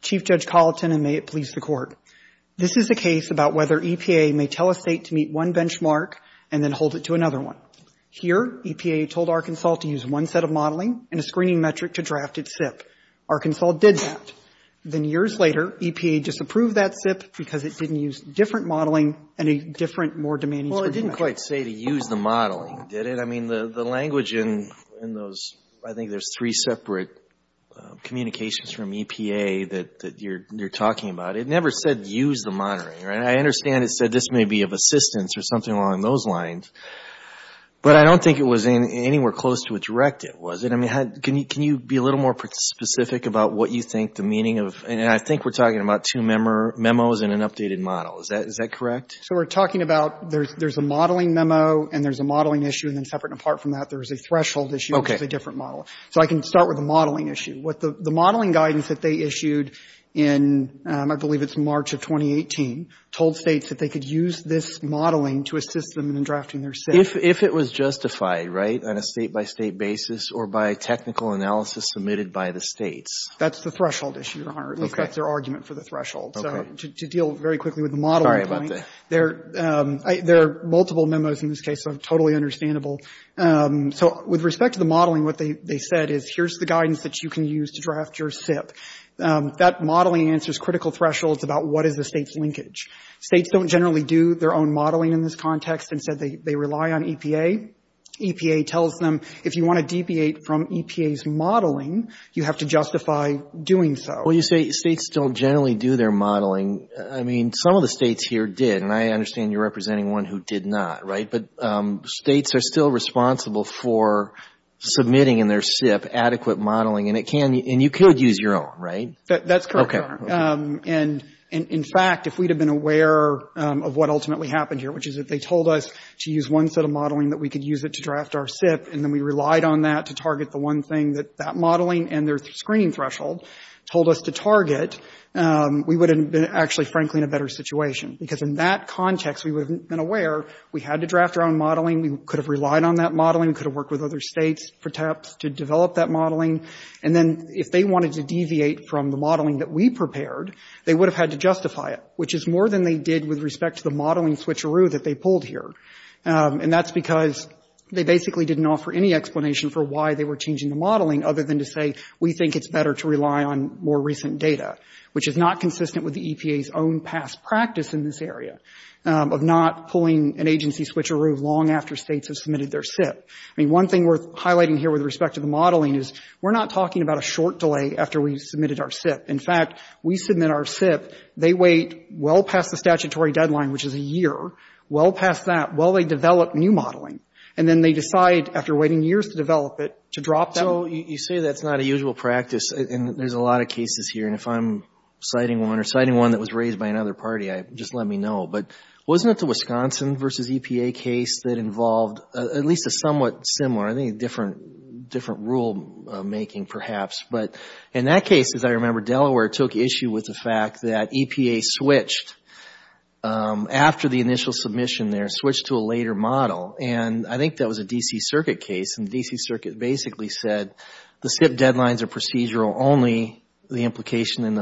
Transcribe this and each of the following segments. Chief Judge Colleton, and may it please the Court. This is a case about whether EPA may tell a state to meet one benchmark and then hold it to another one. Here, EPA told Arkansas to use one set of modeling and a screening metric to draft its SIP. Arkansas did that. Then, years later, EPA disapproved that SIP because it didn't use different modeling and a different, more demanding screening metric. Well, it didn't quite say to use the modeling, did it? I mean, the language in those, I think there's three separate communications from EPA that you're talking about. It never said use the monitoring, right? I understand it said this may be of assistance or something along those lines, but I don't think it was anywhere close to a directive, was it? I mean, can you be a little more specific about what you think the meaning of, and I think we're talking about two memos and an updated model. Is that correct? So, we're talking about there's a modeling memo and there's a modeling issue, and then separate and apart from that, there's a threshold issue, which is a different model. So, I can start with the modeling issue. The modeling guidance that they issued in, I believe it's March of 2018, told states that they could use this modeling to assist them in drafting their SIP. If it was justified, right, on a state-by-state basis or by a technical analysis submitted by the states? That's the threshold issue, Your Honor, if that's their argument for the threshold. So, to deal very quickly with the modeling point, there are multiple memos in this case, so totally understandable. So, with respect to the modeling, what they said is here's the guidance that you can use to draft your SIP. That modeling answers critical thresholds about what is the state's linkage. States don't generally do their own modeling in this context. Instead, they rely on EPA. EPA tells them if you want to deviate from EPA's modeling, you have to justify doing so. Well, you say states don't generally do their modeling. I mean, some of the states here did, and I understand you're representing one who did not, right? But states are still responsible for submitting in their SIP adequate modeling, and you could use your own, right? That's correct, Your Honor. And, in fact, if we'd have been aware of what ultimately happened here, which is that they told us to use one set of modeling, that we could use it to draft our SIP, and then we relied on that to target the one thing that that modeling and their screening threshold told us to target, we would have been, actually, frankly, in a better situation. Because in that context, we would have been aware we had to draft our own modeling. We could have relied on that modeling. We could have worked with other states, perhaps, to develop that modeling. And then, if they wanted to deviate from the modeling that we prepared, they would have had to justify it, which is more than they did with respect to the modeling switcheroo that they pulled here. And that's because they basically didn't offer any explanation for why they were changing the modeling, other than to say, we think it's better to rely on more recent data, which is not consistent with the EPA's own past practice in this area of not pulling an agency switcheroo long after states have submitted their SIP. I mean, one thing worth highlighting here with respect to the modeling is we're not talking about a short delay after we've submitted our SIP. In fact, we submit our SIP, they wait well past the statutory deadline, which is a year, well past that, while they develop new modeling. And then they decide, after waiting years to develop it, to drop that. So you say that's not a usual practice, and there's a lot of cases here. And if I'm citing one or citing one that was raised by another party, just let me know. But wasn't it the Wisconsin v. EPA case that involved at least a somewhat similar, I think, different rule making, perhaps? But in that case, as I remember, Delaware took issue with the fact that EPA switched after the initial submission there, switched to a later model. And I think that was a D.C. Circuit case. And the D.C. Circuit basically said the SIP deadlines are procedural only the implication in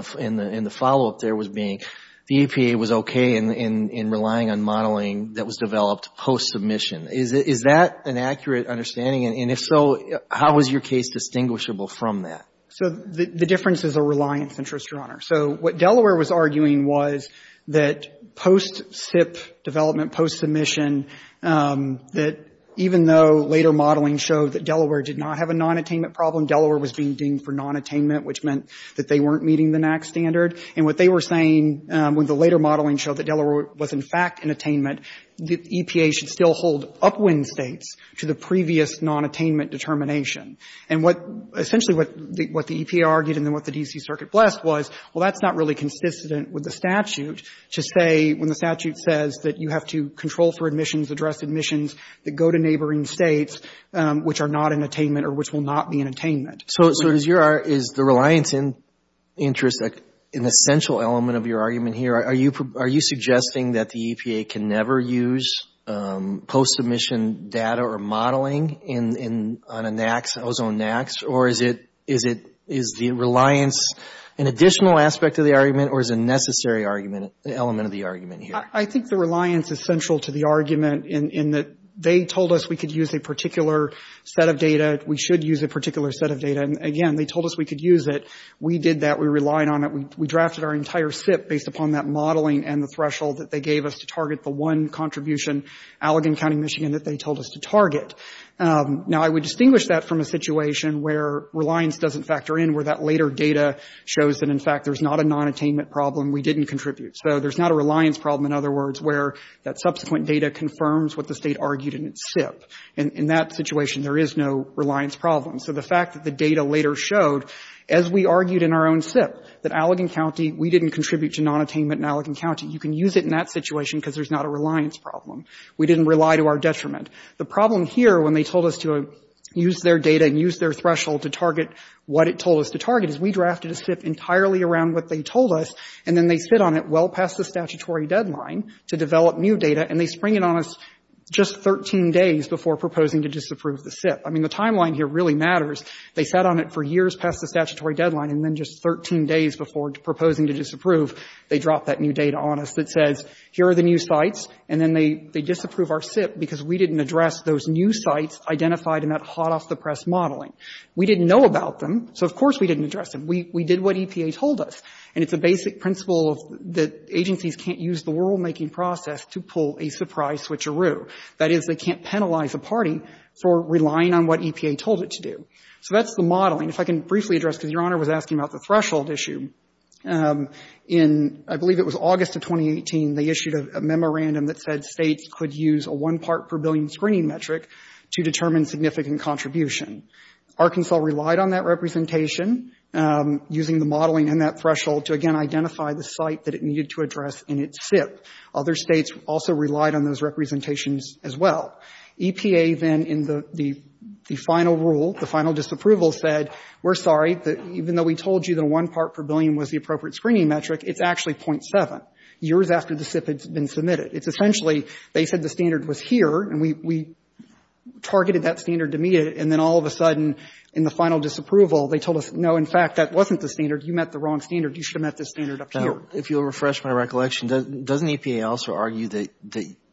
the follow-up there was being the EPA was okay in relying on modeling that was developed post-submission. Is that an accurate understanding? And if so, how was your case distinguishable from that? So the difference is a reliance interest, Your Honor. So what Delaware was arguing was that post-SIP development, post-submission, that even though later modeling showed that Delaware did not have a nonattainment problem, Delaware was being deemed for nonattainment, which meant that they weren't meeting the NAAQS standard. And what they were saying when the later modeling showed that Delaware was, in fact, in attainment, the EPA should still hold upwind states to the previous nonattainment determination. And what — essentially what the EPA argued and then what the D.C. Circuit blessed was, well, that's not really consistent with the statute to say — when the statute says that you have to control for admissions, address admissions that go to neighboring states which are not in attainment or which will not be in attainment. So is your — is the reliance interest an essential element of your argument here? Are you suggesting that the EPA can never use post-submission data or modeling on a NAAQS, ozone NAAQS? Or is it — is the reliance an additional aspect of the argument or is a necessary argument — element of the argument here? I think the reliance is central to the argument in that they told us we could use a particular set of data. We should use a particular set of data. And again, they told us we could use it. We did that. We relied on it. We drafted our entire SIP based upon that modeling and the threshold that they gave us to target the one contribution, Allegan County, Michigan, that they told us to target. Now I would distinguish that from a situation where reliance doesn't factor in, where that later data shows that, in fact, there's not a nonattainment problem. We didn't contribute. So there's not a reliance problem, in other words, where that subsequent data confirms what the State argued in its SIP. In that situation, there is no reliance problem. So the fact that the data later showed, as we argued in our own SIP, that Allegan County — we didn't contribute to nonattainment in Allegan County. You can use it in that situation because there's not a reliance problem. We didn't rely to our detriment. The problem here, when they told us to use their data and use their threshold to target what it told us to target, is we drafted a SIP entirely around what they told us, and then they sit on it well past the statutory deadline to develop new data, and they spring it on us just 13 days before proposing to disapprove the SIP. I mean, the timeline here really matters. They sat on it for years past the statutory deadline, and then just 13 days before proposing to disapprove, they drop that new data on us that says, here are the new sites, and then they disapprove our SIP because we didn't address those new sites identified in that hot-off-the-press modeling. We didn't know about them, so of course we didn't address them. We did what EPA told us, and it's a basic principle that agencies can't use the rulemaking process to pull a surprise switcheroo. That is, they can't penalize a party for relying on what EPA told it to do. So that's the modeling. If I can briefly address, because Your Honor was asking about the threshold issue. In, I believe it was August of 2018, they issued a memorandum that said states could use a one-part-per-billion screening metric to determine significant contribution. Arkansas relied on that representation, using the modeling and that threshold to, again, identify the site that it needed to address in its SIP. Other states also relied on those representations as well. EPA then, in the final rule, the final disapproval, said, we're sorry, even though we told you the one-part-per-billion was the appropriate screening metric, it's actually .7, years after the SIP had been submitted. It's essentially, they said the standard was here, and we targeted that standard to meet it, and then all of a sudden, in the final disapproval, they told us, no, in fact, that wasn't the standard. You met the wrong standard. You should have met the standard up here. If you'll refresh my recollection, doesn't EPA also argue that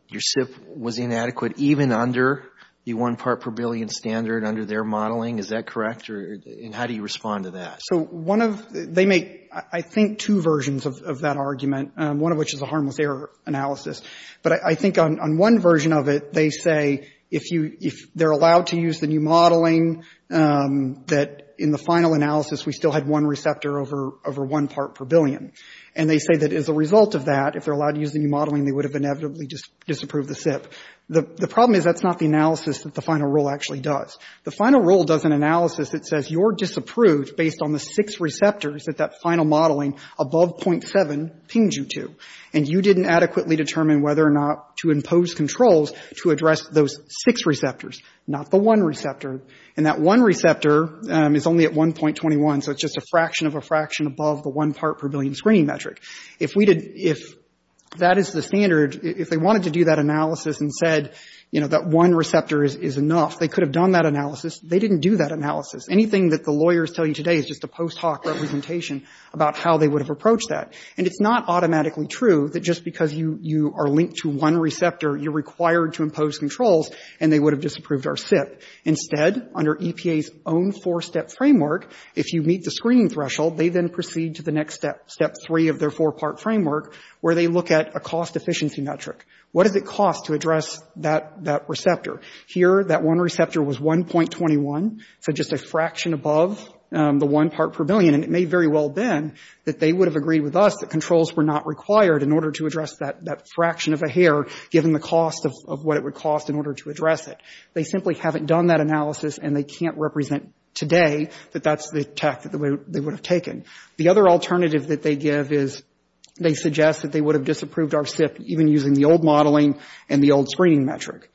your SIP was inadequate, even under the one-part-per-billion standard, under their modeling? Is that correct? And how do you respond to that? So one of, they make, I think, two versions of that argument, one of which is a harmless error analysis. But I think on one version of it, they say, if you, if they're allowed to use the new modeling, that in the final analysis, we still had one receptor over one part-per-billion. And they say that as a result of that, if they're allowed to use the new modeling, they would have inevitably disapproved the SIP. The problem is, that's not the analysis that the final rule actually does. The final rule does an analysis that says you're disapproved based on the six receptors that that final modeling, above .7, pinged you to. And you didn't adequately determine whether or not to impose controls to address those six receptors, not the one receptor. And that one receptor is only at 1.21, so it's just a fraction of a fraction above the one part-per-billion screening metric. If we did, if that is the standard, if they wanted to do that analysis and said, you know, that one receptor is enough, they could have done that analysis. They didn't do that analysis. Anything that the lawyer is telling you today is just a post hoc representation about how they would have approached that. And it's not automatically true that just because you are linked to one receptor, you're required to impose controls, and they would have disapproved our SIP. Instead, under EPA's own four-step framework, if you meet the screening threshold, they then proceed to the next step, step three of their four-part framework, where they look at a cost-efficiency metric. What does it cost to address that receptor? Here, that one receptor was 1.21, so just a fraction above the one part-per-billion. And it may very well have been that they would have agreed with us that controls were not required in order to address that fraction of a hair, given the cost of what it would cost in order to address it. They simply haven't done that analysis, and they can't represent today that that's the tact that they would have taken. The other alternative that they give is they suggest that they would have disapproved our SIP even using the old modeling and the old screening metric.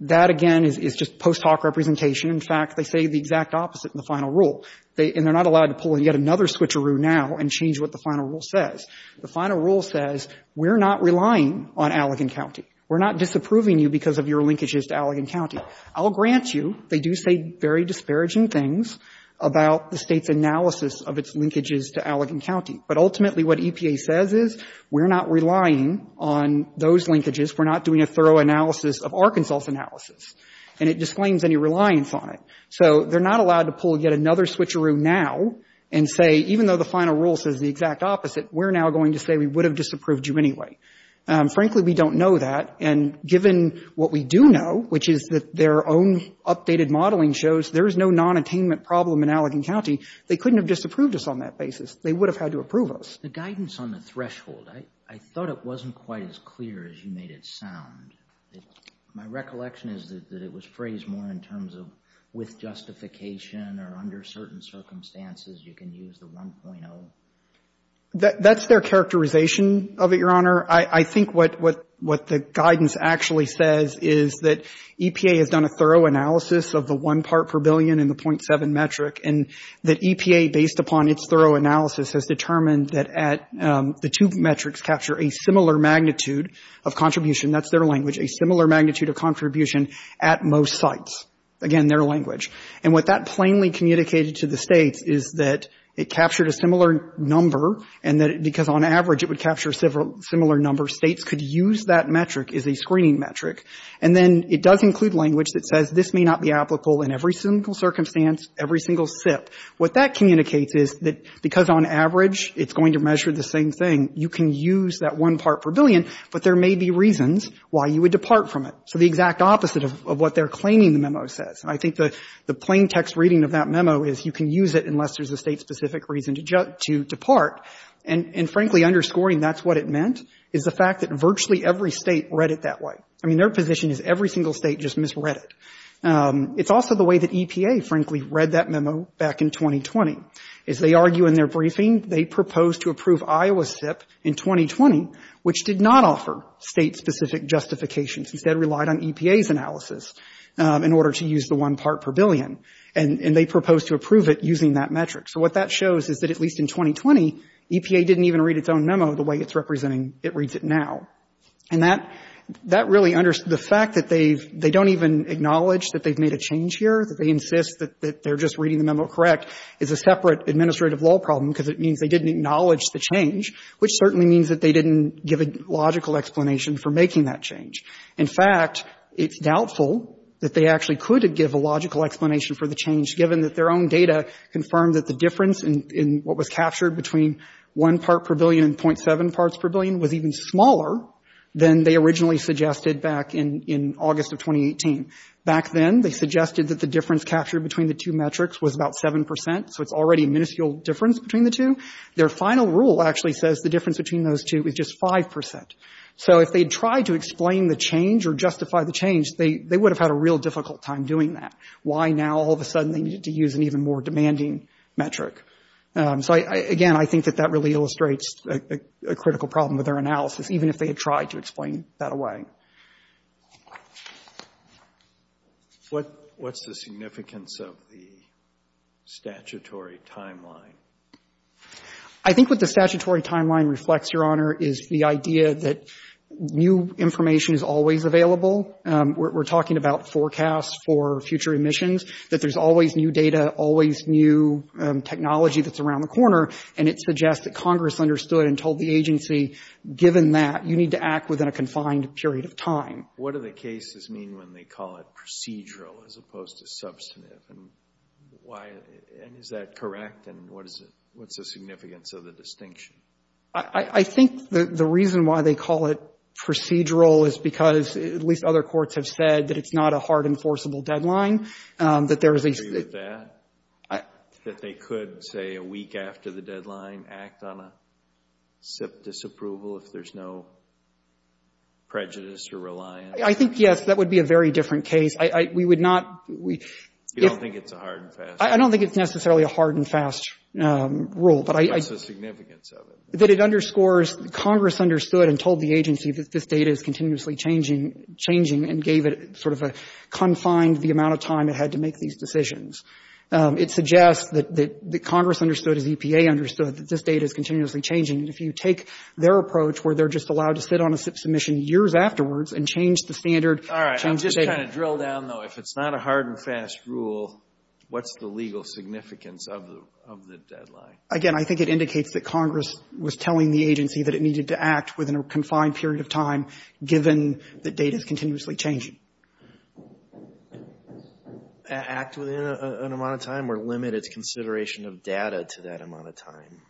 That, again, is just post hoc representation. In fact, they say the exact opposite in the final rule. And they're not allowed to pull in yet another switcheroo now and change what the final rule says. The We're not relying on Allegan County. We're not disapproving you because of your linkages to Allegan County. I'll grant you they do say very disparaging things about the State's analysis of its linkages to Allegan County. But ultimately, what EPA says is we're not relying on those linkages. We're not doing a thorough analysis of Arkansas's analysis. And it disclaims any reliance on it. So they're not allowed to pull yet another switcheroo now and say, even though the final rule says the exact opposite, we're now going to say we would have disapproved you anyway. Frankly, we don't know that. And given what we do know, which is that their own updated modeling shows there is no nonattainment problem in Allegan County, they couldn't have disapproved us on that basis. They would have had to approve us. The guidance on the threshold, I thought it wasn't quite as clear as you made it sound. My recollection is that it was phrased more in terms of with justification or under certain circumstances you can use the 1.0. That's their characterization of it, Your Honor. I think what the guidance actually says is that EPA has done a thorough analysis of the one part per billion in the .7 metric. And that EPA, based upon its thorough analysis, has determined that the two metrics capture a similar magnitude of contribution. That's their language. A similar magnitude of contribution at most sites. Again, their language. And what that plainly communicated to the States is that it captured a similar number and that because on average it would capture a similar number, States could use that metric as a screening metric. And then it does include language that says this may not be applicable in every single circumstance, every single SIP. What that communicates is that because on average it's going to measure the same thing, you can use that one part per billion, but there may be reasons why you would depart from it. So the exact opposite of what they're claiming the memo says. And I think the plain text reading of that memo is you can use it unless there's a State-specific reason to depart. And frankly, underscoring that's what it meant is the fact that virtually every State read it that way. I mean, their position is every single State just misread it. It's also the way that EPA, frankly, read that memo back in 2020. As they argue in their briefing, they proposed to approve Iowa SIP in 2020, which did not offer State-specific justifications, instead relied on EPA's analysis in order to use the one part per billion. And they proposed to approve it using that metric. So what that shows is that at least in 2020, EPA didn't even read its own memo the way it's representing it reads it now. And that really, the fact that they don't even acknowledge that they've made a change here, that they insist that they're just reading the memo correct, is a separate administrative law problem, because it means they didn't acknowledge the change, which certainly means that they didn't give a logical explanation for making that change. In fact, it's doubtful that they actually could have given a logical explanation for the change, given that their own data confirmed that the difference in what was captured between one part per billion and .7 parts per billion was even smaller than they originally suggested back in August of 2018. Back then, they suggested that the difference captured between the two metrics was about 7 percent, so it's already a minuscule difference between the two. Their final rule actually says the difference between those two is just 5 percent. So if they'd tried to explain the change or justify the change, they would have had a real difficult time doing that. Why now all of a sudden they needed to use an even more demanding metric? So, again, I think that that really illustrates a critical problem with their analysis, even if they had tried to explain that away. What's the significance of the statutory timeline? I think what the statutory timeline reflects, Your Honor, is the idea that new information is always available. We're talking about forecasts for future emissions, that there's always new data, always new technology that's around the corner, and it suggests that Congress understood and told the agency, given that, you need to act within a confined period of What do the cases mean when they call it procedural as opposed to substantive? And is that correct? And what's the significance of the distinction? I think the reason why they call it procedural is because at least other courts have said that it's not a hard, enforceable deadline, that there is a... If they could, say, a week after the deadline, act on a SIP disapproval if there's no prejudice or reliance? I think, yes, that would be a very different case. We would not... You don't think it's a hard and fast rule? I don't think it's necessarily a hard and fast rule, but I... What's the significance of it? That it underscores, Congress understood and told the agency that this data is continuously changing and gave it sort of a confined, the amount of time it had to make these decisions. It suggests that Congress understood, as EPA understood, that this data is continuously changing. And if you take their approach where they're just allowed to sit on a SIP submission years afterwards and change the standard... All right. I'm just going to drill down, though. If it's not a hard and fast rule, what's the legal significance of the deadline? Again, I think it indicates that Congress was telling the agency that it needed to act within a confined period of time, given that data is continuously changing. Act within an amount of time or limit its consideration of data to that amount of time?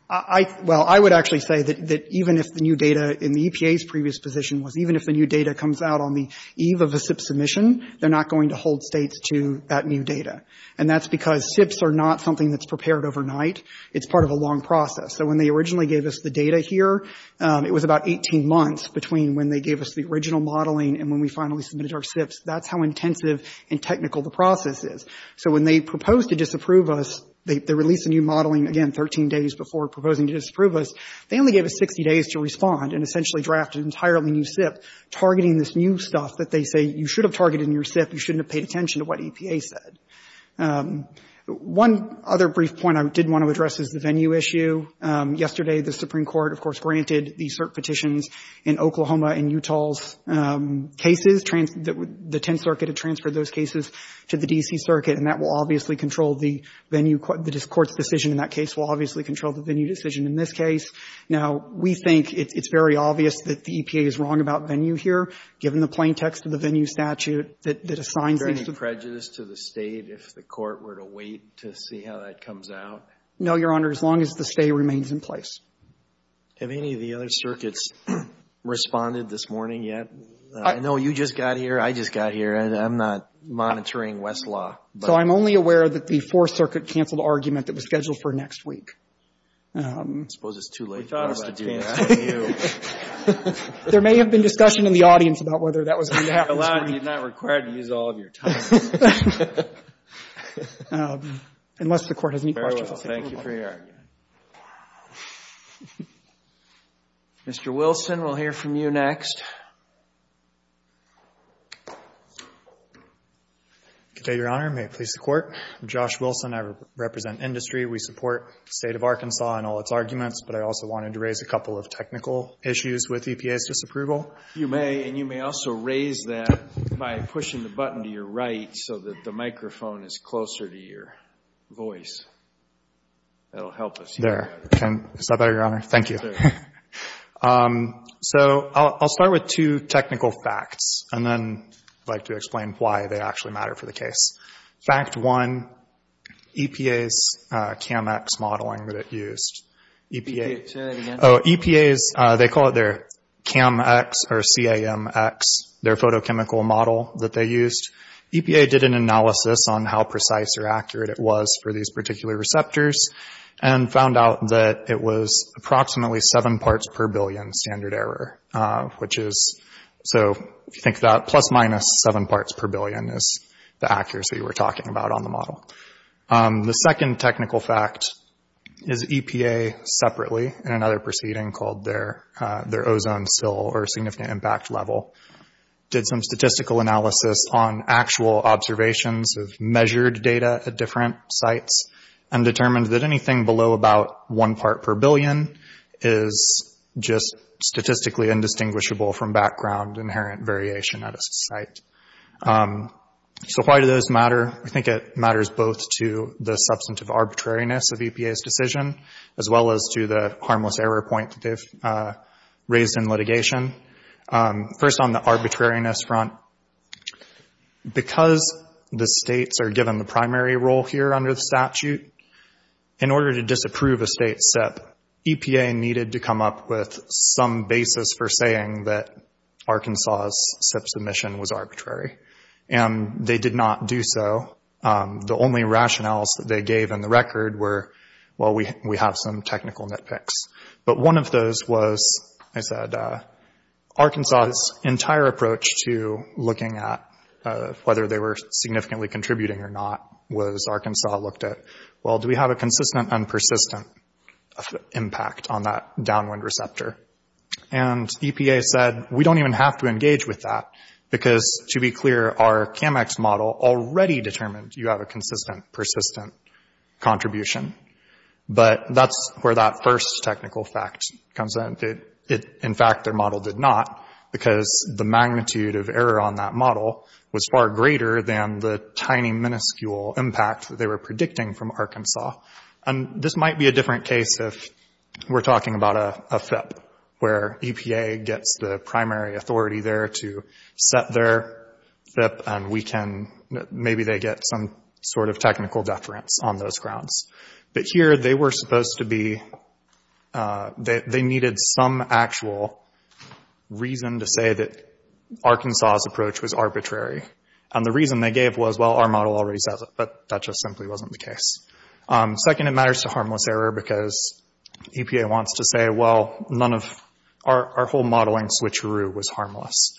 Well, I would actually say that even if the new data in the EPA's previous position was even if the new data comes out on the eve of a SIP submission, they're not going to hold states to that new data. And that's because SIPs are not something that's prepared overnight. It's part of a long process. So when they originally gave us the data here, it was about 18 months between when they gave us the original modeling and when we finally submitted our SIPs. That's how intensive and technical the process is. So when they proposed to disapprove us, they released the new modeling, again, 13 days before proposing to disapprove us. They only gave us 60 days to respond and essentially drafted an entirely new SIP targeting this new stuff that they say you should have targeted in your SIP. You shouldn't have paid attention to what EPA said. One other brief point I did want to address is the venue issue. Yesterday, the Supreme Court petitions in Oklahoma and Utah's cases, the Tenth Circuit had transferred those cases to the D.C. Circuit. And that will obviously control the venue. The Court's decision in that case will obviously control the venue decision in this case. Now, we think it's very obvious that the EPA is wrong about venue here, given the plain text of the venue statute that assigns venue to the State if the Court were to wait to see how that comes out. No, Your Honor, as long as the stay remains in place. Have any of the other circuits responded this morning yet? I know you just got here, I just got here, and I'm not monitoring Westlaw. So I'm only aware that the Fourth Circuit canceled an argument that was scheduled for next week. I suppose it's too late for us to do that. There may have been discussion in the audience about whether that was going to happen this You're allowed and you're not required to use all of your time. Unless the Court has any questions. Thank you for your argument. Mr. Wilson, we'll hear from you next. Good day, Your Honor. May it please the Court? I'm Josh Wilson. I represent industry. We support the State of Arkansas and all its arguments, but I also wanted to raise a couple of technical issues with EPA's disapproval. You may, and you may also raise that by pushing the button to your right so that the microphone is closer to your voice. That'll help us hear better. Is that better, Your Honor? Thank you. So I'll start with two technical facts, and then I'd like to explain why they actually matter for the case. Fact one, EPA's CAM-X modeling that it used. EPA's, they call it their CAM-X or C-A-M-X, their photochemical model that they used. EPA did an analysis on how precise or accurate it was for these particular receptors and found out that it was approximately seven parts per billion standard error, which is, so if you think about it, plus minus seven parts per billion is the accuracy we're talking about on the model. The second technical fact is EPA separately, in another proceeding called their ozone sill or significant impact level, did some statistical analysis on actual observations of measured data at different sites and determined that anything below about one part per billion is just statistically indistinguishable from background inherent variation at a site. So why do those matter? I think it matters both to the substantive arbitrariness of EPA's submission, as well as to the harmless error point that they've raised in litigation. First on the arbitrariness front, because the states are given the primary role here under the statute, in order to disapprove a state SIP, EPA needed to come up with some basis for saying that Arkansas' SIP submission was arbitrary, and they did not do so. The only rationales that they gave in the record were, well, we have some technical nitpicks. But one of those was, I said, Arkansas' entire approach to looking at whether they were significantly contributing or not was Arkansas looked at, well, do we have a consistent and persistent impact on that downwind receptor? And EPA said, we don't even have to engage with that, because to be clear, our CAMEX model already determined you have a consistent, persistent contribution. But that's where that first technical fact comes in. In fact, their model did not, because the magnitude of error on that model was far greater than the tiny, minuscule impact that they were predicting from Arkansas. And this might be a different case if we're talking about a SIP, where EPA gets the primary authority there to set their SIP, and we can, maybe they get some sort of technical deference on those grounds. But here, they were supposed to be, they needed some actual reason to say that Arkansas' approach was arbitrary. And the reason they gave was, well, our model already says it, but that just simply wasn't the case. Second, it matters to harmless error, because EPA wants to say, well, none of, our whole modeling switcheroo was harmless.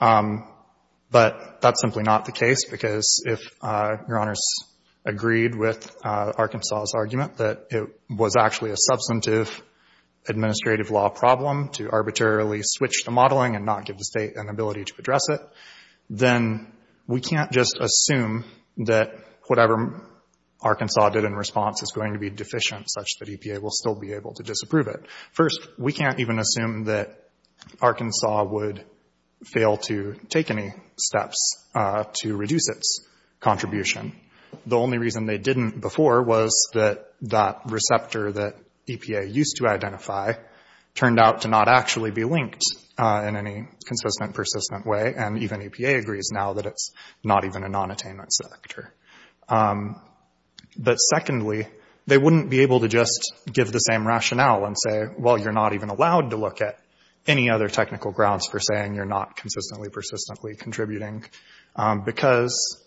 But that's simply not the case, because if Your Honors agreed with Arkansas' argument that it was actually a substantive administrative law problem to arbitrarily switch the modeling and not give the state an ability to address it, then we can't just assume that whatever Arkansas did in response is going to be deficient such that EPA will still be able to disapprove it. First, we can't even assume that Arkansas would fail to take any steps to reduce its contribution. The only reason they didn't before was that that receptor that EPA used to identify turned out to not actually be linked in any consistent, persistent way, and even EPA agrees now that it's not even a non-attainment selector. But secondly, they wouldn't be able to just give the same rationale and say, well, you're not even allowed to look at any other technical grounds for saying you're not consistently, persistently contributing, because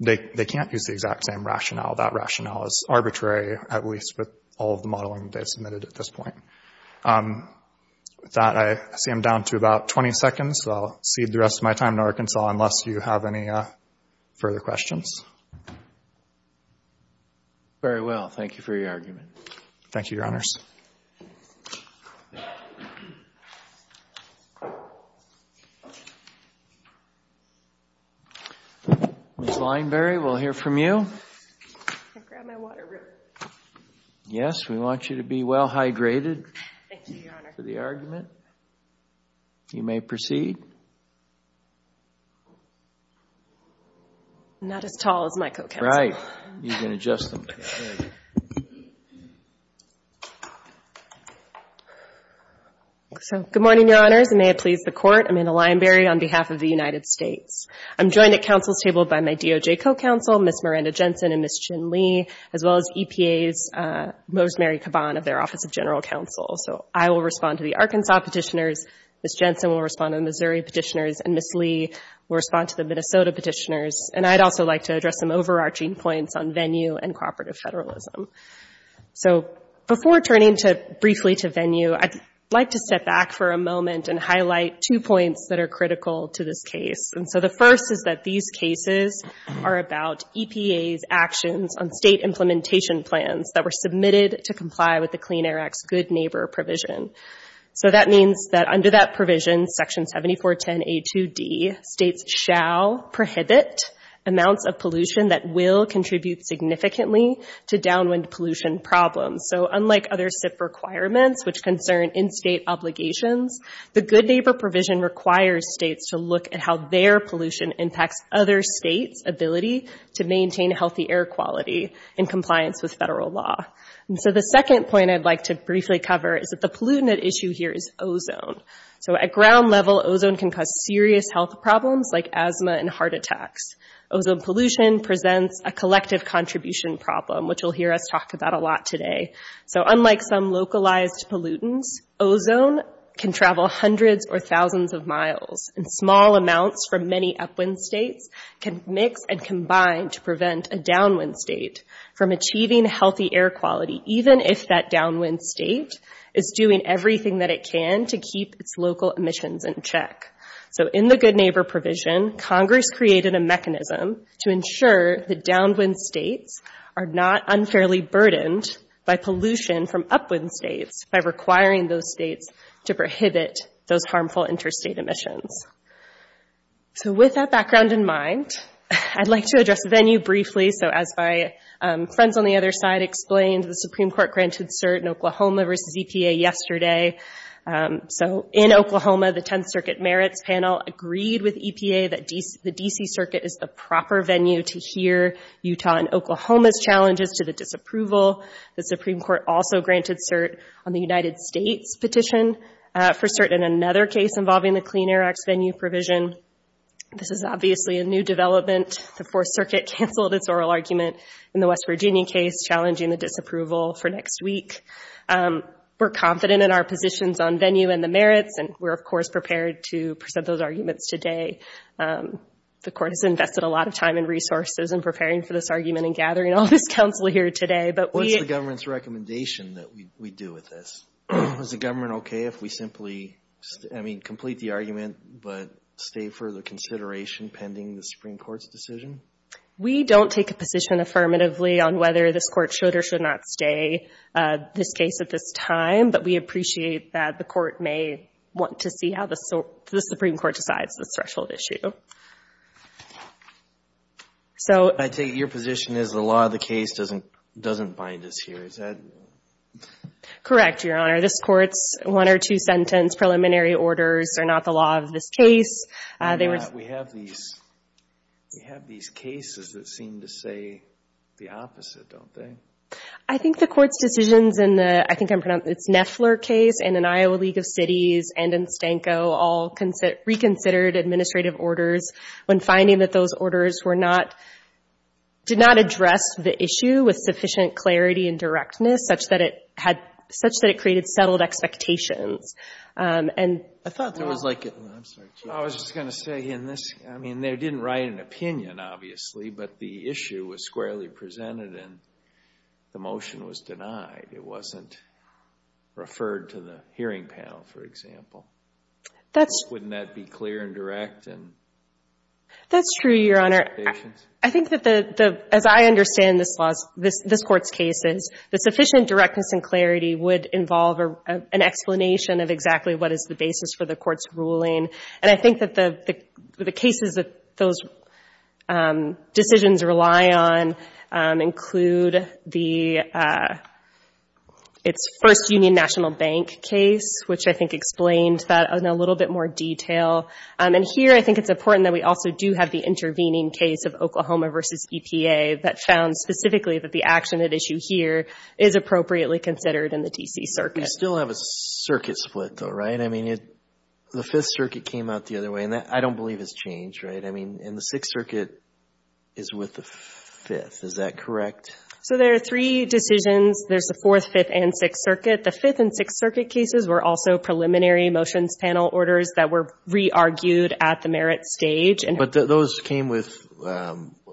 they can't use the exact same rationale. That rationale is arbitrary, at least with all of the modeling they've submitted at this point. With that, I see I'm down to about 20 seconds, so I'll cede the rest of my time to Arkansas unless you have any further questions. Very well. Thank you for your argument. Thank you, Your Honors. Ms. Lineberry, we'll hear from you. Can I grab my water real quick? Yes, we want you to be well hydrated for the argument. Thank you, Your Honor. You may proceed. I'm not as tall as my co-counsel. Right. You can adjust them. Good morning, Your Honors, and may it please the Court. I'm Anna Lineberry on behalf of the United States. I'm joined at Council's table by my DOJ co-counsel, Ms. Miranda Jensen and Ms. Chin Lee, as well as EPA's Mosemary Caban of their Office of General Counsel. I will respond to the Arkansas petitioners, Ms. Jensen will respond to the Missouri petitioners, and Ms. Lee will respond to the Minnesota petitioners. I'd also like to address some overarching points on venue and cooperative federalism. Before turning briefly to venue, I'd like to step back for a moment and highlight two points that are critical to this case. The first is that these cases are about EPA's actions on state implementation plans that were submitted to the EPA. That means that under that provision, Section 7410A2D, states shall prohibit amounts of pollution that will contribute significantly to downwind pollution problems. Unlike other SIP requirements, which concern in-state obligations, the Good Neighbor provision requires states to look at how their pollution impacts other states' ability to maintain healthy air quality in compliance with federal law. The second point I'd like to briefly cover is that the pollutant at issue here is ozone. At ground level, ozone can cause serious health problems like asthma and heart attacks. Ozone pollution presents a collective contribution problem, which you'll hear us talk about a lot today. Unlike some localized pollutants, ozone can travel hundreds or thousands of miles, and small amounts from many upwind states can mix and combine to prevent a downwind state from achieving healthy air quality, even if that downwind state is doing everything that it can to keep its local emissions in check. So in the Good Neighbor provision, Congress created a mechanism to ensure that downwind states are not unfairly burdened by pollution from upwind states by requiring those states to prohibit those harmful interstate emissions. So with that background in mind, I'd like to address the venue briefly. So as my friends on the other side explained, the Supreme Court granted cert in Oklahoma versus EPA yesterday. So in Oklahoma, the 10th Circuit Merits Panel agreed with EPA that the D.C. Circuit is the proper venue to hear Utah and Oklahoma's challenges to the disapproval. The Supreme Court also granted cert on the United States petition for cert in another case involving the Clean Air Act's venue provision. This is obviously a new development. The 4th Circuit canceled its oral argument in the West Virginia case challenging the disapproval for next week. We're confident in our positions on venue and the merits, and we're of course prepared to present those arguments today. The Court has invested a lot of time and resources in preparing for this argument and gathering all this counsel here today, but we... We don't take a position affirmatively on whether this Court should or should not stay this case at this time, but we appreciate that the Court may want to see how the Supreme Court decides the threshold issue. So... Does that... Correct, Your Honor. This Court's one or two sentence preliminary orders are not the law of this case. We have these cases that seem to say the opposite, don't they? I think the Court's decisions in the... I think I'm pronouncing... It's Neffler case and in Iowa League of Cities and in Stanko all reconsidered administrative orders when finding that those orders were not... Did not address the issue with sufficient clarity and directness such that it had... Such that it created settled expectations. I thought there was like... I'm sorry, Chief. I was just going to say in this... I mean, they didn't write an opinion, obviously, but the issue was squarely presented and the motion was denied. It wasn't referred to the hearing panel, for example. Wouldn't that be clear and direct and... That's true, Your Honor. I think that as I understand this Court's cases, the sufficient directness and clarity would involve an explanation of exactly what is the basis for the Court's ruling. And I think that the cases that those decisions rely on include the... Its first Union National Bank case, which I think explained that in a little bit more detail. And here, I think it's important that we also do have the intervening case of Oklahoma versus EPA that found specifically that the action at issue here is appropriately considered in the D.C. Circuit. We still have a circuit split, though, right? I mean, the Fifth Circuit came out the other way and I don't believe it's changed, right? I mean, and the Sixth Circuit is with the Fifth. Is that correct? So there are three decisions. There's the Fourth, Fifth, and Sixth Circuit. The Fifth and Sixth Circuit cases were also preliminary motions panel orders that were re-argued at the merit stage. But those came with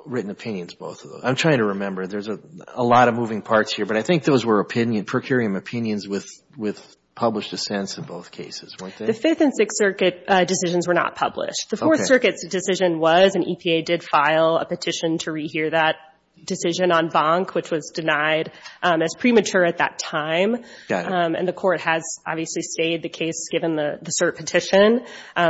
written opinions, both of those. I'm trying to remember. There's a lot of moving parts here, but I think those were opinion, per curiam opinions with published dissents in both cases, weren't they? The Fifth and Sixth Circuit decisions were not published. The Fourth Circuit's decision was, and EPA did file a petition to re-hear that decision on Bonk, which was denied as premature at that time. And the Court has obviously stayed the case, given the cert petition,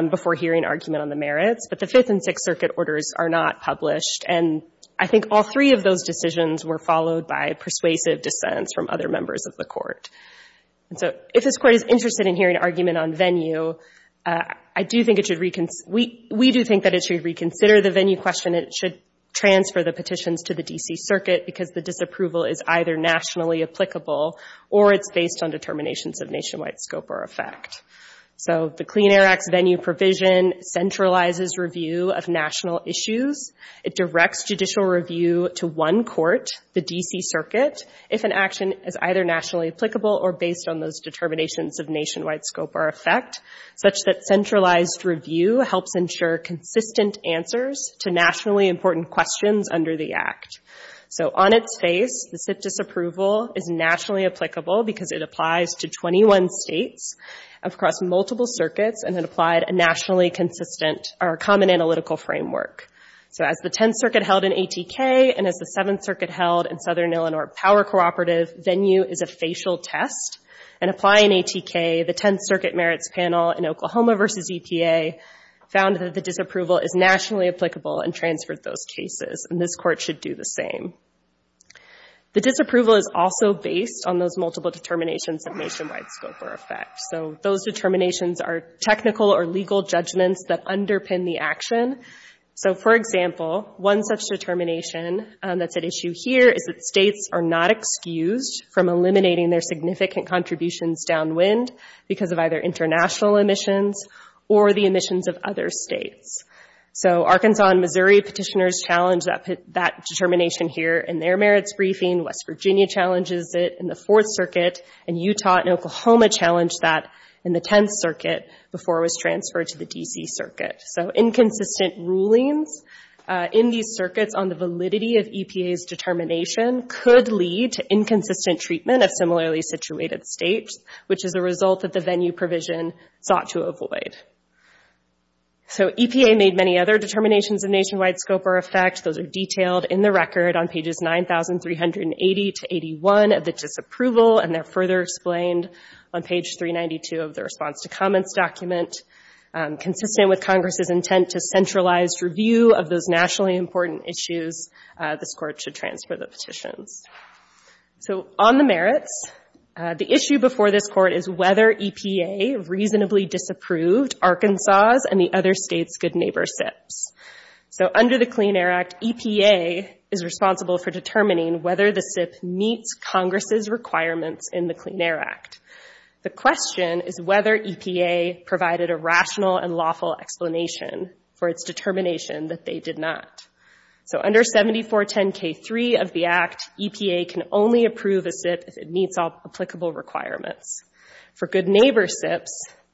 before hearing argument on the merits. But the Fifth and Sixth Circuit orders are not published. And I think all three of those decisions were followed by persuasive dissents from other members of the Court. And so if this Court is interested in hearing argument on venue, I do think it should reconsider. We do think that it should reconsider the venue question. It should transfer the petitions to the D.C. Circuit because the disapproval is either nationally applicable or it's based on determinations of nationwide scope or effect. So the Clean Air Act's venue provision centralizes review of national issues. It directs judicial review to one court, the D.C. Circuit, if an action is either nationally applicable or based on those determinations of nationwide scope or effect, such that centralized review helps ensure consistent answers to nationally important questions under the Act. So on its face, the SIPP disapproval is nationally applicable because it applies to 21 states across multiple circuits and it applied a nationally consistent or a common analytical framework. So as the Tenth Circuit held in ATK and as the Seventh Circuit held in Southern Illinois Power Cooperative, venue is a facial test. And applying ATK, the Tenth Circuit merits panel in Oklahoma v. EPA found that the disapproval is nationally applicable and same. The disapproval is also based on those multiple determinations of nationwide scope or effect. So those determinations are technical or legal judgments that underpin the action. So for example, one such determination that's at issue here is that states are not excused from eliminating their significant contributions downwind because of either international emissions or the emissions of other states. So Arkansas and Missouri petitioners challenge that determination here in their merits briefing. West Virginia challenges it in the Fourth Circuit, and Utah and Oklahoma challenged that in the Tenth Circuit before it was transferred to the D.C. Circuit. So inconsistent rulings in these circuits on the validity of EPA's determination could lead to inconsistent treatment of similarly situated states, which is a result that the venue provision sought to avoid. So EPA made many other determinations of nationwide scope or effect. Those are detailed in the record on pages 9,380 to 81 of the disapproval, and they're further explained on page 392 of the response to comments document. Consistent with Congress's intent to centralized review of those nationally important issues, this Court should transfer the merits. So on the merits, the issue before this Court is whether EPA reasonably disapproved Arkansas's and the other states' good neighbor SIPs. So under the Clean Air Act, EPA is responsible for determining whether the SIP meets Congress's requirements in the Clean Air Act. The question is whether EPA provided a rational and lawful explanation for its determination that they did not. So under 7410K3 of the Act, EPA can only approve a SIP if it meets all applicable requirements. For good neighbor SIPs,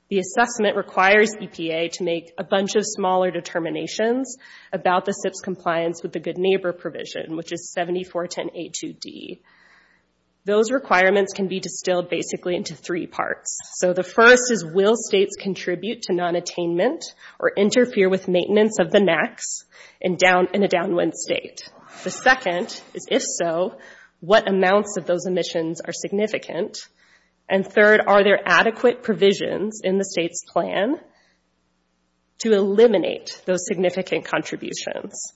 the assessment requires EPA to make a bunch of smaller determinations about the SIP's compliance with the good neighbor provision, which is 7410A2D. Those requirements can be distilled basically into three parts. So the first is, will states contribute to nonattainment or decline in a downwind state? The second is, if so, what amounts of those emissions are significant? And third, are there adequate provisions in the state's plan to eliminate those significant contributions?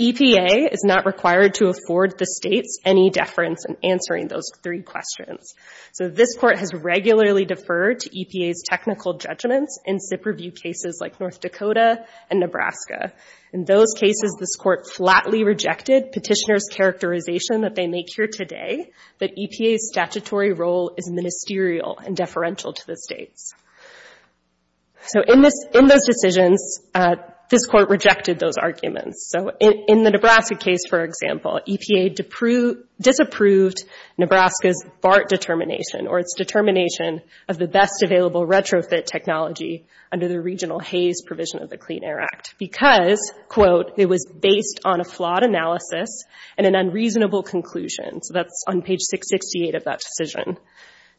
EPA is not required to afford the states any deference in answering those three questions. So this Court has regularly deferred to EPA's technical judgments in SIP review cases like North Dakota and Nebraska. In those cases, this Court flatly rejected petitioner's characterization that they make here today that EPA's statutory role is ministerial and deferential to the states. In those decisions, this Court rejected those arguments. In the Nebraska case, for example, EPA disapproved Nebraska's BART determination, or its determination of the best available retrofit technology under the Regional Haze Provision of the Clean Air Act, because, quote, it was based on a flawed analysis and an unreasonable conclusion. So that's on page 668 of that decision.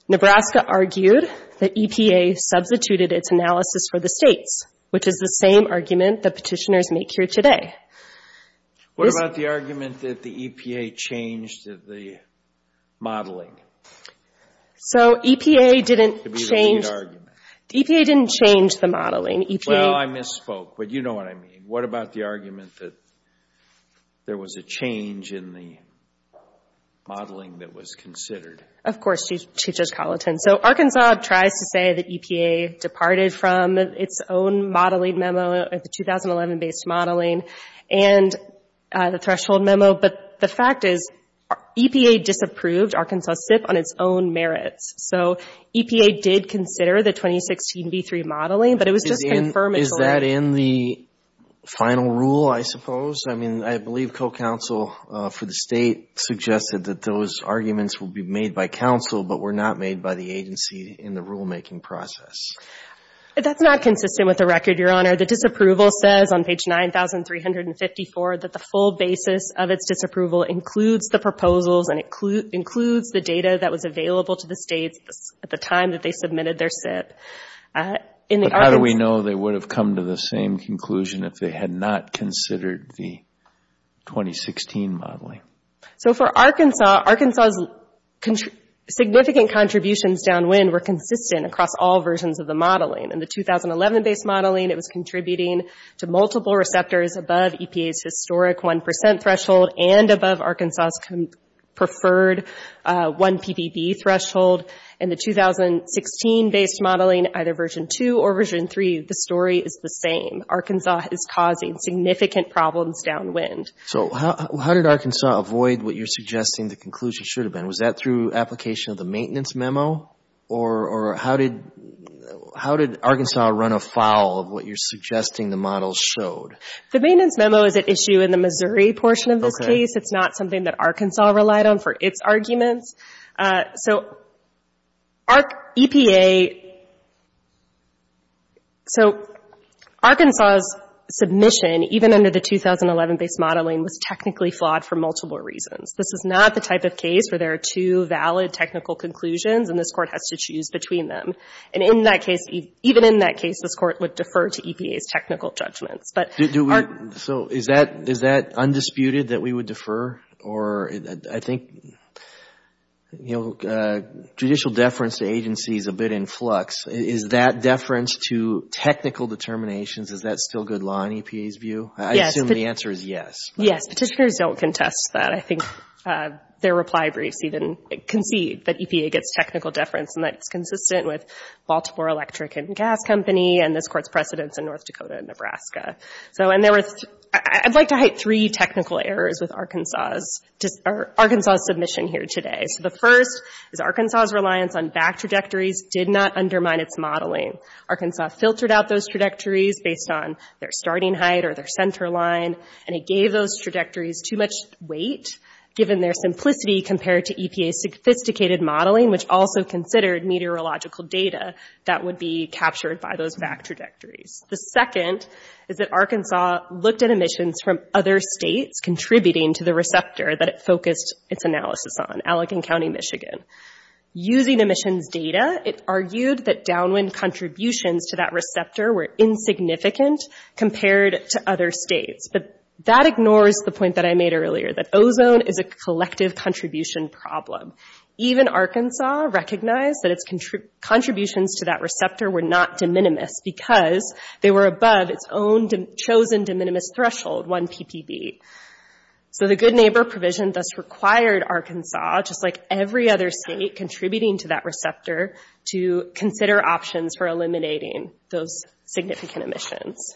Nebraska argued that EPA substituted its analysis for the states, which is the same argument that petitioners make here today. What about the argument that the EPA changed the modeling? So EPA didn't change the modeling. Well, I misspoke, but you know what I mean. What about the argument that there was a change in the modeling that was considered? Of course, Chief Judge Colleton. So Arkansas tries to say that EPA departed from its own modeling memo, the 2011-based modeling, and the threshold memo. But the fact is EPA disapproved Arkansas SIP on its own merits. So EPA did consider the 2016 V3 modeling, but it was just confirmatory. Is that in the final rule, I suppose? I mean, I believe co-counsel for the state suggested that those arguments would be made by counsel, but were not made by the agency in the rulemaking process. That's not consistent with the record, Your Honor. The disapproval says on page 9354 that the full basis of its disapproval includes the proposals and includes the data that was available to the states at the time that they submitted their SIP. But how do we know they would have come to the same conclusion if they had not considered the 2016 modeling? So for Arkansas, Arkansas's significant contributions downwind were consistent across all versions of the modeling. In the 2011-based modeling, it was contributing to multiple receptors above EPA's historic 1 percent threshold and above Arkansas's preferred 1 ppb threshold. In the 2016-based modeling, either version 2 or version 3, the story is the same. Arkansas is causing significant problems downwind. So how did Arkansas avoid what you're suggesting the conclusion should have been? Was that through application of the maintenance memo, or how did Arkansas run afoul of what you're suggesting the models showed? The maintenance memo is at issue in the Missouri portion of this case. It's not something that Arkansas relied on for its arguments. So Arkansas's submission, even under the 2011-based modeling, was technically flawed for multiple reasons. This is not the type of case where there are two valid technical conclusions and this Court has to choose between them. And even in that case, this Court would defer to EPA's technical judgments. So is that undisputed, that we would defer? Judicial deference to agency is a bit in flux. Is that deference to technical determinations, is that still good law in EPA's view? I assume the answer is yes. Yes, petitioners don't contest that. I think their reply briefs even concede that EPA gets technical deference and that it's consistent with Baltimore Electric and Gas Company and this Court's precedents in North Dakota and Nebraska. I'd like to hide three technical errors with Arkansas's submission here today. So the first is Arkansas's reliance on back trajectories did not undermine its modeling. Arkansas filtered out those trajectories based on their starting height or their center line, and it gave those trajectories too much weight, given their simplicity compared to EPA's sophisticated modeling, which also considered meteorological data that would be captured by those back trajectories. The second is that Arkansas looked at emissions from other states contributing to the receptor that it focused its analysis on, Allegan County, Michigan. Using emissions data, it argued that downwind contributions to that receptor were insignificant compared to other states. But that ignores the point that I made earlier, that ozone is a collective contribution problem. Even Arkansas recognized that its contributions to that receptor were not de minimis because they were above its own chosen de minimis threshold, 1 ppb. So the good neighbor provision thus required Arkansas, just like every other state contributing to that receptor, to consider options for eliminating those significant emissions.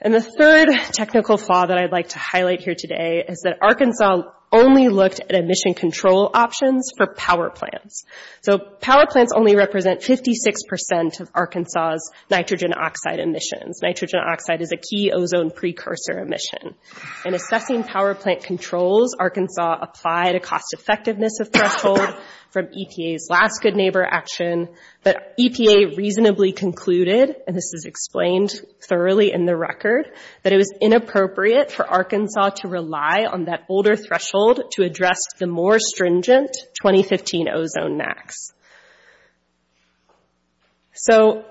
And the third technical flaw that I'd like to highlight here today is that Arkansas only looked at emission control options for power plants. So power plants only represent 56% of Arkansas's nitrogen oxide emissions. Nitrogen oxide is a key ozone precursor emission. In assessing power plant controls, Arkansas applied a cost effectiveness of threshold from EPA's last good neighbor action, but EPA reasonably concluded, and this is explained thoroughly in the record, that it was inappropriate for Arkansas to rely on that older threshold to address the more stringent 2015 ozone max. So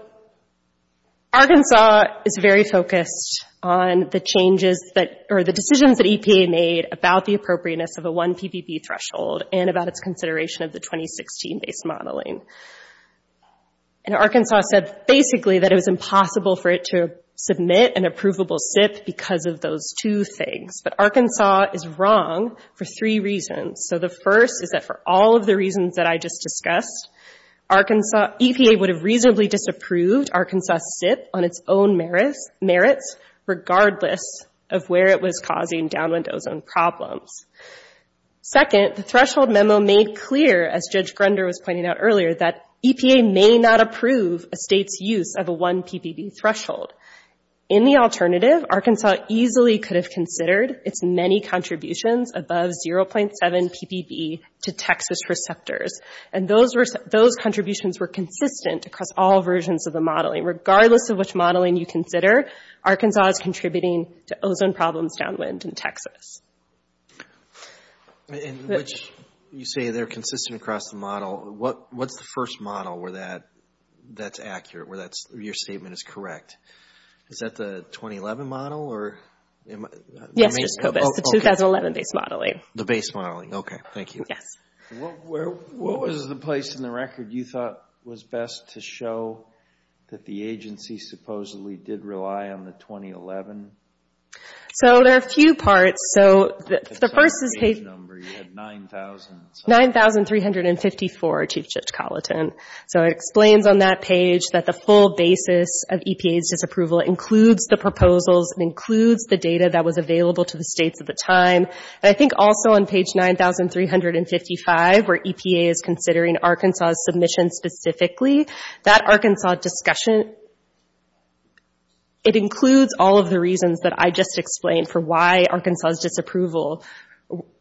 Arkansas is very focused on the decisions that EPA made about the appropriateness of a 1 ppb threshold and about its consideration of the 2016-based modeling. And Arkansas said basically that it was impossible for it to submit an approvable SIP because of those two things. But Arkansas is wrong for three reasons. First, EPA would have reasonably disapproved Arkansas's SIP on its own merits, regardless of where it was causing downwind ozone problems. Second, the threshold memo made clear, as Judge Grunder was pointing out earlier, that EPA may not approve a state's use of a 1 ppb threshold. In the alternative, Arkansas easily could have considered its many contributions above 0.7 ppb to Texas receptors, and those contributions were consistent across all versions of the modeling. Regardless of which modeling you consider, Arkansas is contributing to ozone problems downwind in Texas. In which you say they're consistent across the model, what's the first model where that's accurate, where your statement is correct? Is that the 2011 model? Yes, the 2011-based modeling. What was the place in the record you thought was best to show that the agency supposedly did rely on the 2011? So there are a few parts. The first is page 9354, Chief Judge Colleton. So it explains on that page that the full basis of EPA's disapproval includes the proposals, and includes the data that was available to the states at the time. And I think also on page 9355, where EPA is considering Arkansas's submission specifically, that Arkansas discussion, it includes all of the reasons that I just explained for why Arkansas's disapproval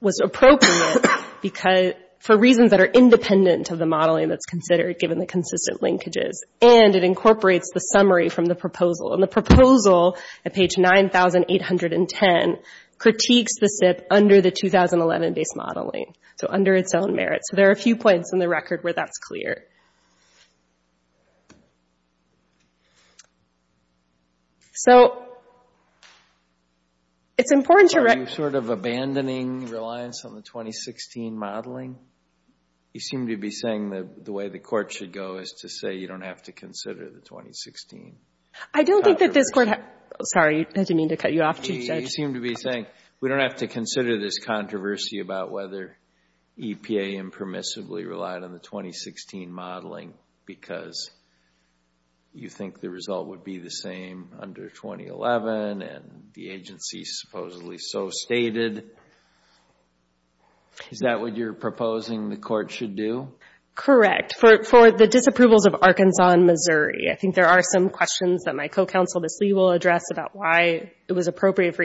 was appropriate, for reasons that are independent of the modeling that's considered, given the consistent linkages. And it incorporates the summary from the proposal. And the proposal at page 9810 critiques the SIPP under the 2011-based modeling, so under its own merits. So there are a few points in the record where that's clear. So it's important to recognize... Are you sort of abandoning reliance on the 2016 modeling? You seem to be saying that the way the Court should go is to say you don't have to consider the 2016. I don't think that this Court has... Sorry, did I mean to cut you off, Chief Judge? You seem to be saying we don't have to consider this controversy about whether EPA impermissibly relied on the 2016 modeling because you think the result would be the same under 2011, and the agency supposedly so stated. Is that what you're proposing the Court should do? Correct. For the disapprovals of Arkansas and Missouri. I don't think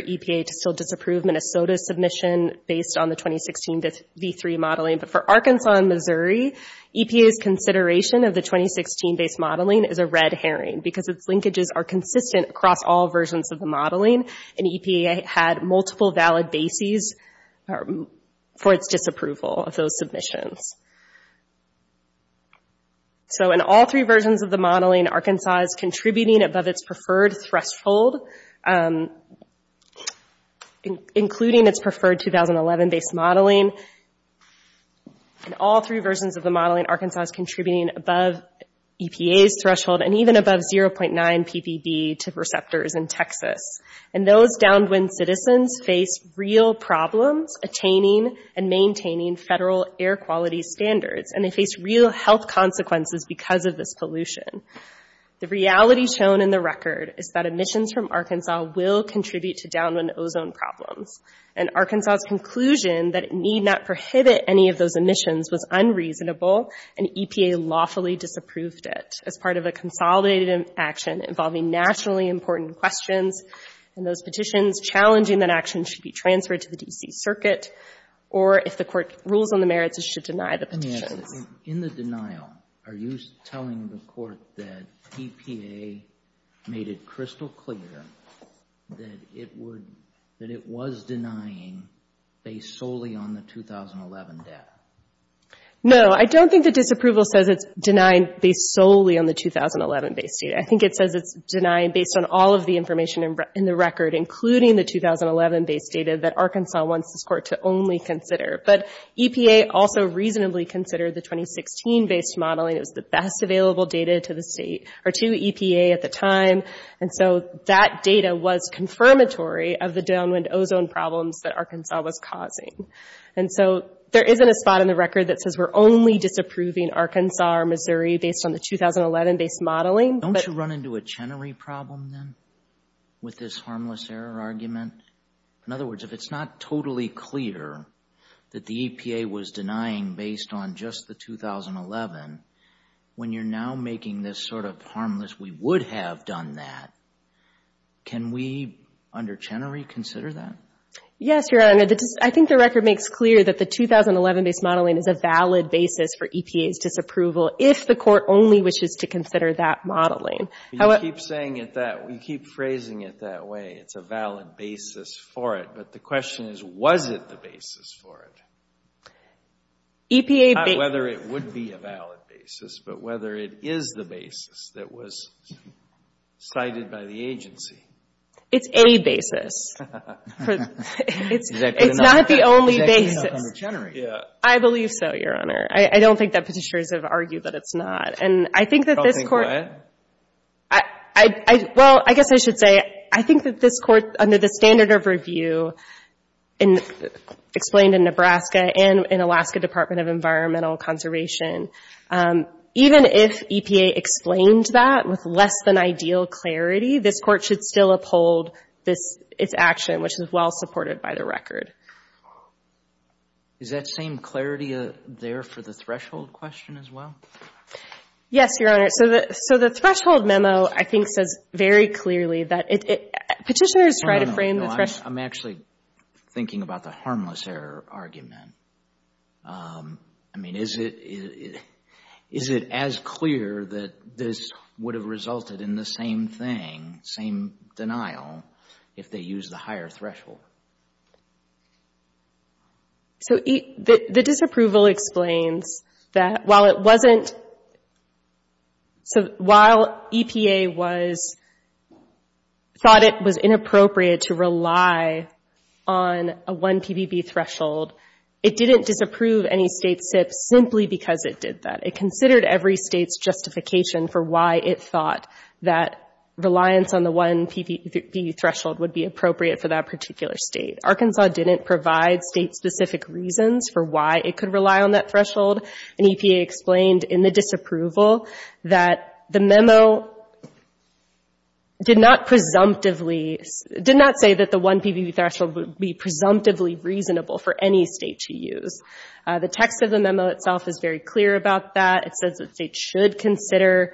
EPA should still disapprove Minnesota's submission based on the 2016 V3 modeling. But for Arkansas and Missouri, EPA's consideration of the 2016-based modeling is a red herring because its linkages are consistent across all versions of the modeling, and EPA had multiple valid bases for its disapproval of those submissions. So in all three versions of the modeling, Arkansas is contributing above its preferred threshold. Including its preferred 2011-based modeling. In all three versions of the modeling, Arkansas is contributing above EPA's threshold and even above 0.9 ppb to receptors in Texas. And those downwind citizens face real problems attaining and maintaining federal air quality standards, and they face real health consequences because of this pollution. The reality shown in the record is that emissions from Arkansas will contribute to downwind ozone problems. And Arkansas's conclusion that it need not prohibit any of those emissions was unreasonable, and EPA lawfully disapproved it as part of a consolidated action involving nationally important questions, and those petitions challenging that action should be transferred to the D.C. Circuit, or if the Court rules on the merits, it should deny the petitions. And I hope that EPA made it crystal clear that it was denying based solely on the 2011 data. No, I don't think the disapproval says it's denying based solely on the 2011-based data. I think it says it's denying based on all of the information in the record, including the 2011-based data that Arkansas wants this Court to only consider. But EPA also reasonably considered the 2016-based modeling. It was the best available data to EPA at the time, and so that data was confirmatory of the downwind ozone problems that Arkansas was causing. And so there isn't a spot in the record that says we're only disapproving Arkansas or Missouri based on the 2011-based modeling. Don't you run into a Chenery problem, then, with this harmless error argument? In other words, if it's not totally clear that the EPA was denying based on just the 2011, when you're now making this sort of harmless we would have done that, can we, under Chenery, consider that? Yes, Your Honor. I think the record makes clear that the 2011-based modeling is a valid basis for EPA's disapproval if the Court only wishes to consider that modeling. You keep phrasing it that way, it's a valid basis for it, but the question is, was it the basis for it? Not whether it would be a valid basis, but whether it is the basis that was cited by the agency. It's a basis. It's not the only basis. I believe so, Your Honor. I don't think that petitioners have argued that it's not. Well, I guess I should say, I think that this Court, under the standard of review, explained in Nebraska and in Alaska Department of Environmental Conservation, even if EPA explained that with less than ideal clarity, this Court should still uphold its action, which is well supported by the record. Is that same clarity there for the threshold question as well? Yes, Your Honor. So the threshold memo, I think, says very clearly that it, petitioners try to frame the threshold. I'm actually thinking about the harmless error argument. I mean, is it as clear that this would have resulted in the same thing, same denial, if they used the higher threshold? So the disapproval explains that while it wasn't, so while EPA thought it was inappropriate to rely on a 1 PBB threshold, it didn't disapprove any state SIP simply because it did that. It considered every state's justification for why it thought that reliance on the 1 PBB threshold would be appropriate for that particular state. Arkansas didn't provide state-specific reasons for why it could rely on that threshold, and EPA explained in the disapproval that the memo did not presumptively, did not say that the 1 PBB threshold would be presumptively reasonable for any state to use. The text of the memo itself is very clear about that. It says that states should consider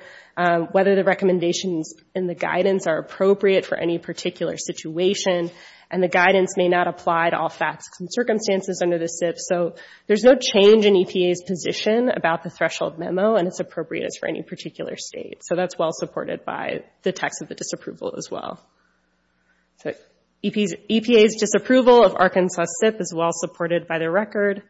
whether the recommendations in the guidance are appropriate for any particular situation, and the guidance may not apply to all facts and circumstances under the SIP. So there's no change in EPA's position about the threshold memo, and it's appropriate for any particular state. So that's well supported by the text of the disapproval as well. EPA's disapproval of Arkansas SIP is well supported by the record.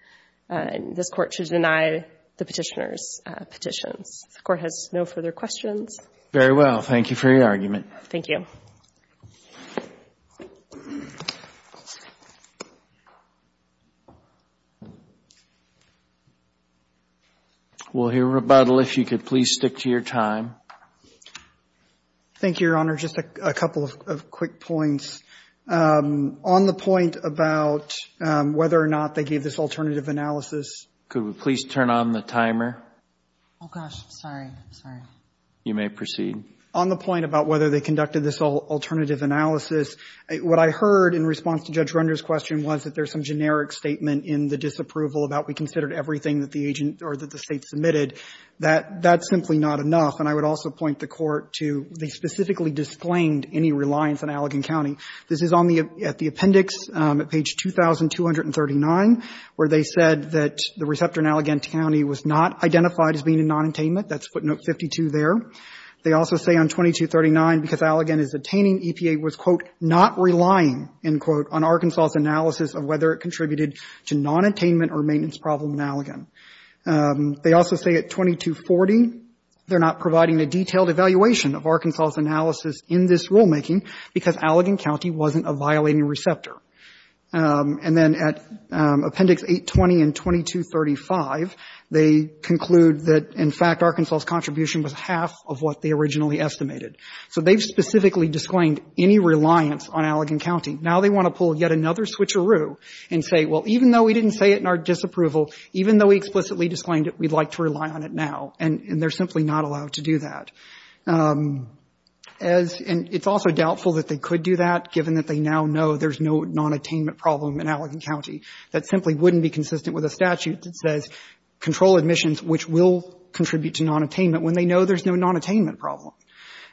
This Court should deny the petitioner's petitions. The Court has no further questions. Very well. Thank you for your argument. Thank you. We'll hear rebuttal if you could please stick to your time. Thank you, Your Honor. Just a couple of quick points. On the point about whether or not they gave this alternative analysis. Could we please turn on the timer? Oh, gosh. Sorry. Sorry. You may proceed. On the point about whether they conducted this alternative analysis, what I heard in response to Judge Render's question was that there's some generic statement in the disapproval about we considered everything that the agent or that the State submitted, that that's simply not enough. And I would also point the Court to they specifically disclaimed any reliance on Allegan County. This is on the at the appendix at page 2239, where they said that the receptor in Allegan County was not identified as being a nonattainment. That's footnote 52 there. They also say on 2239, because Allegan is attaining EPA, was, quote, not relying, end quote, on Arkansas's analysis of whether it contributed to nonattainment or maintenance problem in Allegan. They also say at 2240, they're not providing a detailed evaluation of Arkansas's analysis in this rulemaking, because Allegan County wasn't a violating receptor. And then at appendix 820 and 2235, they conclude that, in fact, Arkansas's contribution was half of what they originally estimated. So they've specifically disclaimed any reliance on Allegan County. Now they want to pull yet another switcheroo and say, well, even though we didn't say it in our disapproval, even though we explicitly disclaimed it, we'd like to rely on it now. And they're simply not allowed to do that. And it's also doubtful that they could do that, given that they now know there's no nonattainment problem in Allegan County. That simply wouldn't be consistent with a statute that says control admissions, which will contribute to nonattainment, when they know there's no nonattainment problem.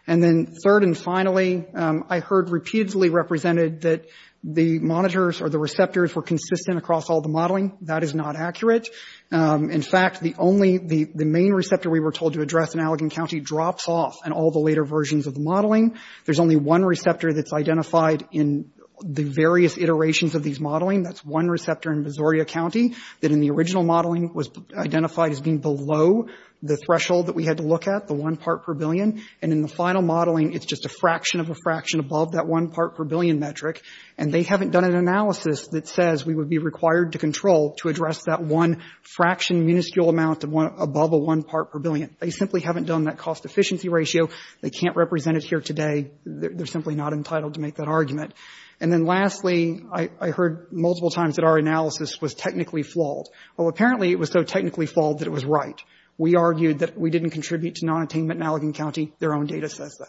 And then third and finally, I heard repeatedly represented that the monitors or the receptors were consistent across all the modeling. That is not accurate. In fact, the only, the main receptor we were told to address in Allegan County drops off in all the later versions of the modeling. There's only one receptor that's identified in the various iterations of these modeling. That's one receptor in Missouri County that in the original modeling was identified as being below the threshold that we had to look at, the one part per billion. And in the final modeling, it's just a fraction of a fraction above that one part per billion metric. And they haven't done an analysis that says we would be required to control to address that one fraction, minuscule amount above a one part per billion. They simply haven't done that cost efficiency ratio. They can't represent it here today. They're simply not entitled to make that And then lastly, I heard multiple times that our analysis was technically flawed. Well, apparently it was so technically flawed that it was right. We argued that we didn't contribute to nonattainment in Allegan County. Their own data says that,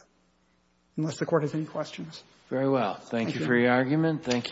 unless the Court has any questions. Very well. Thank you for your argument.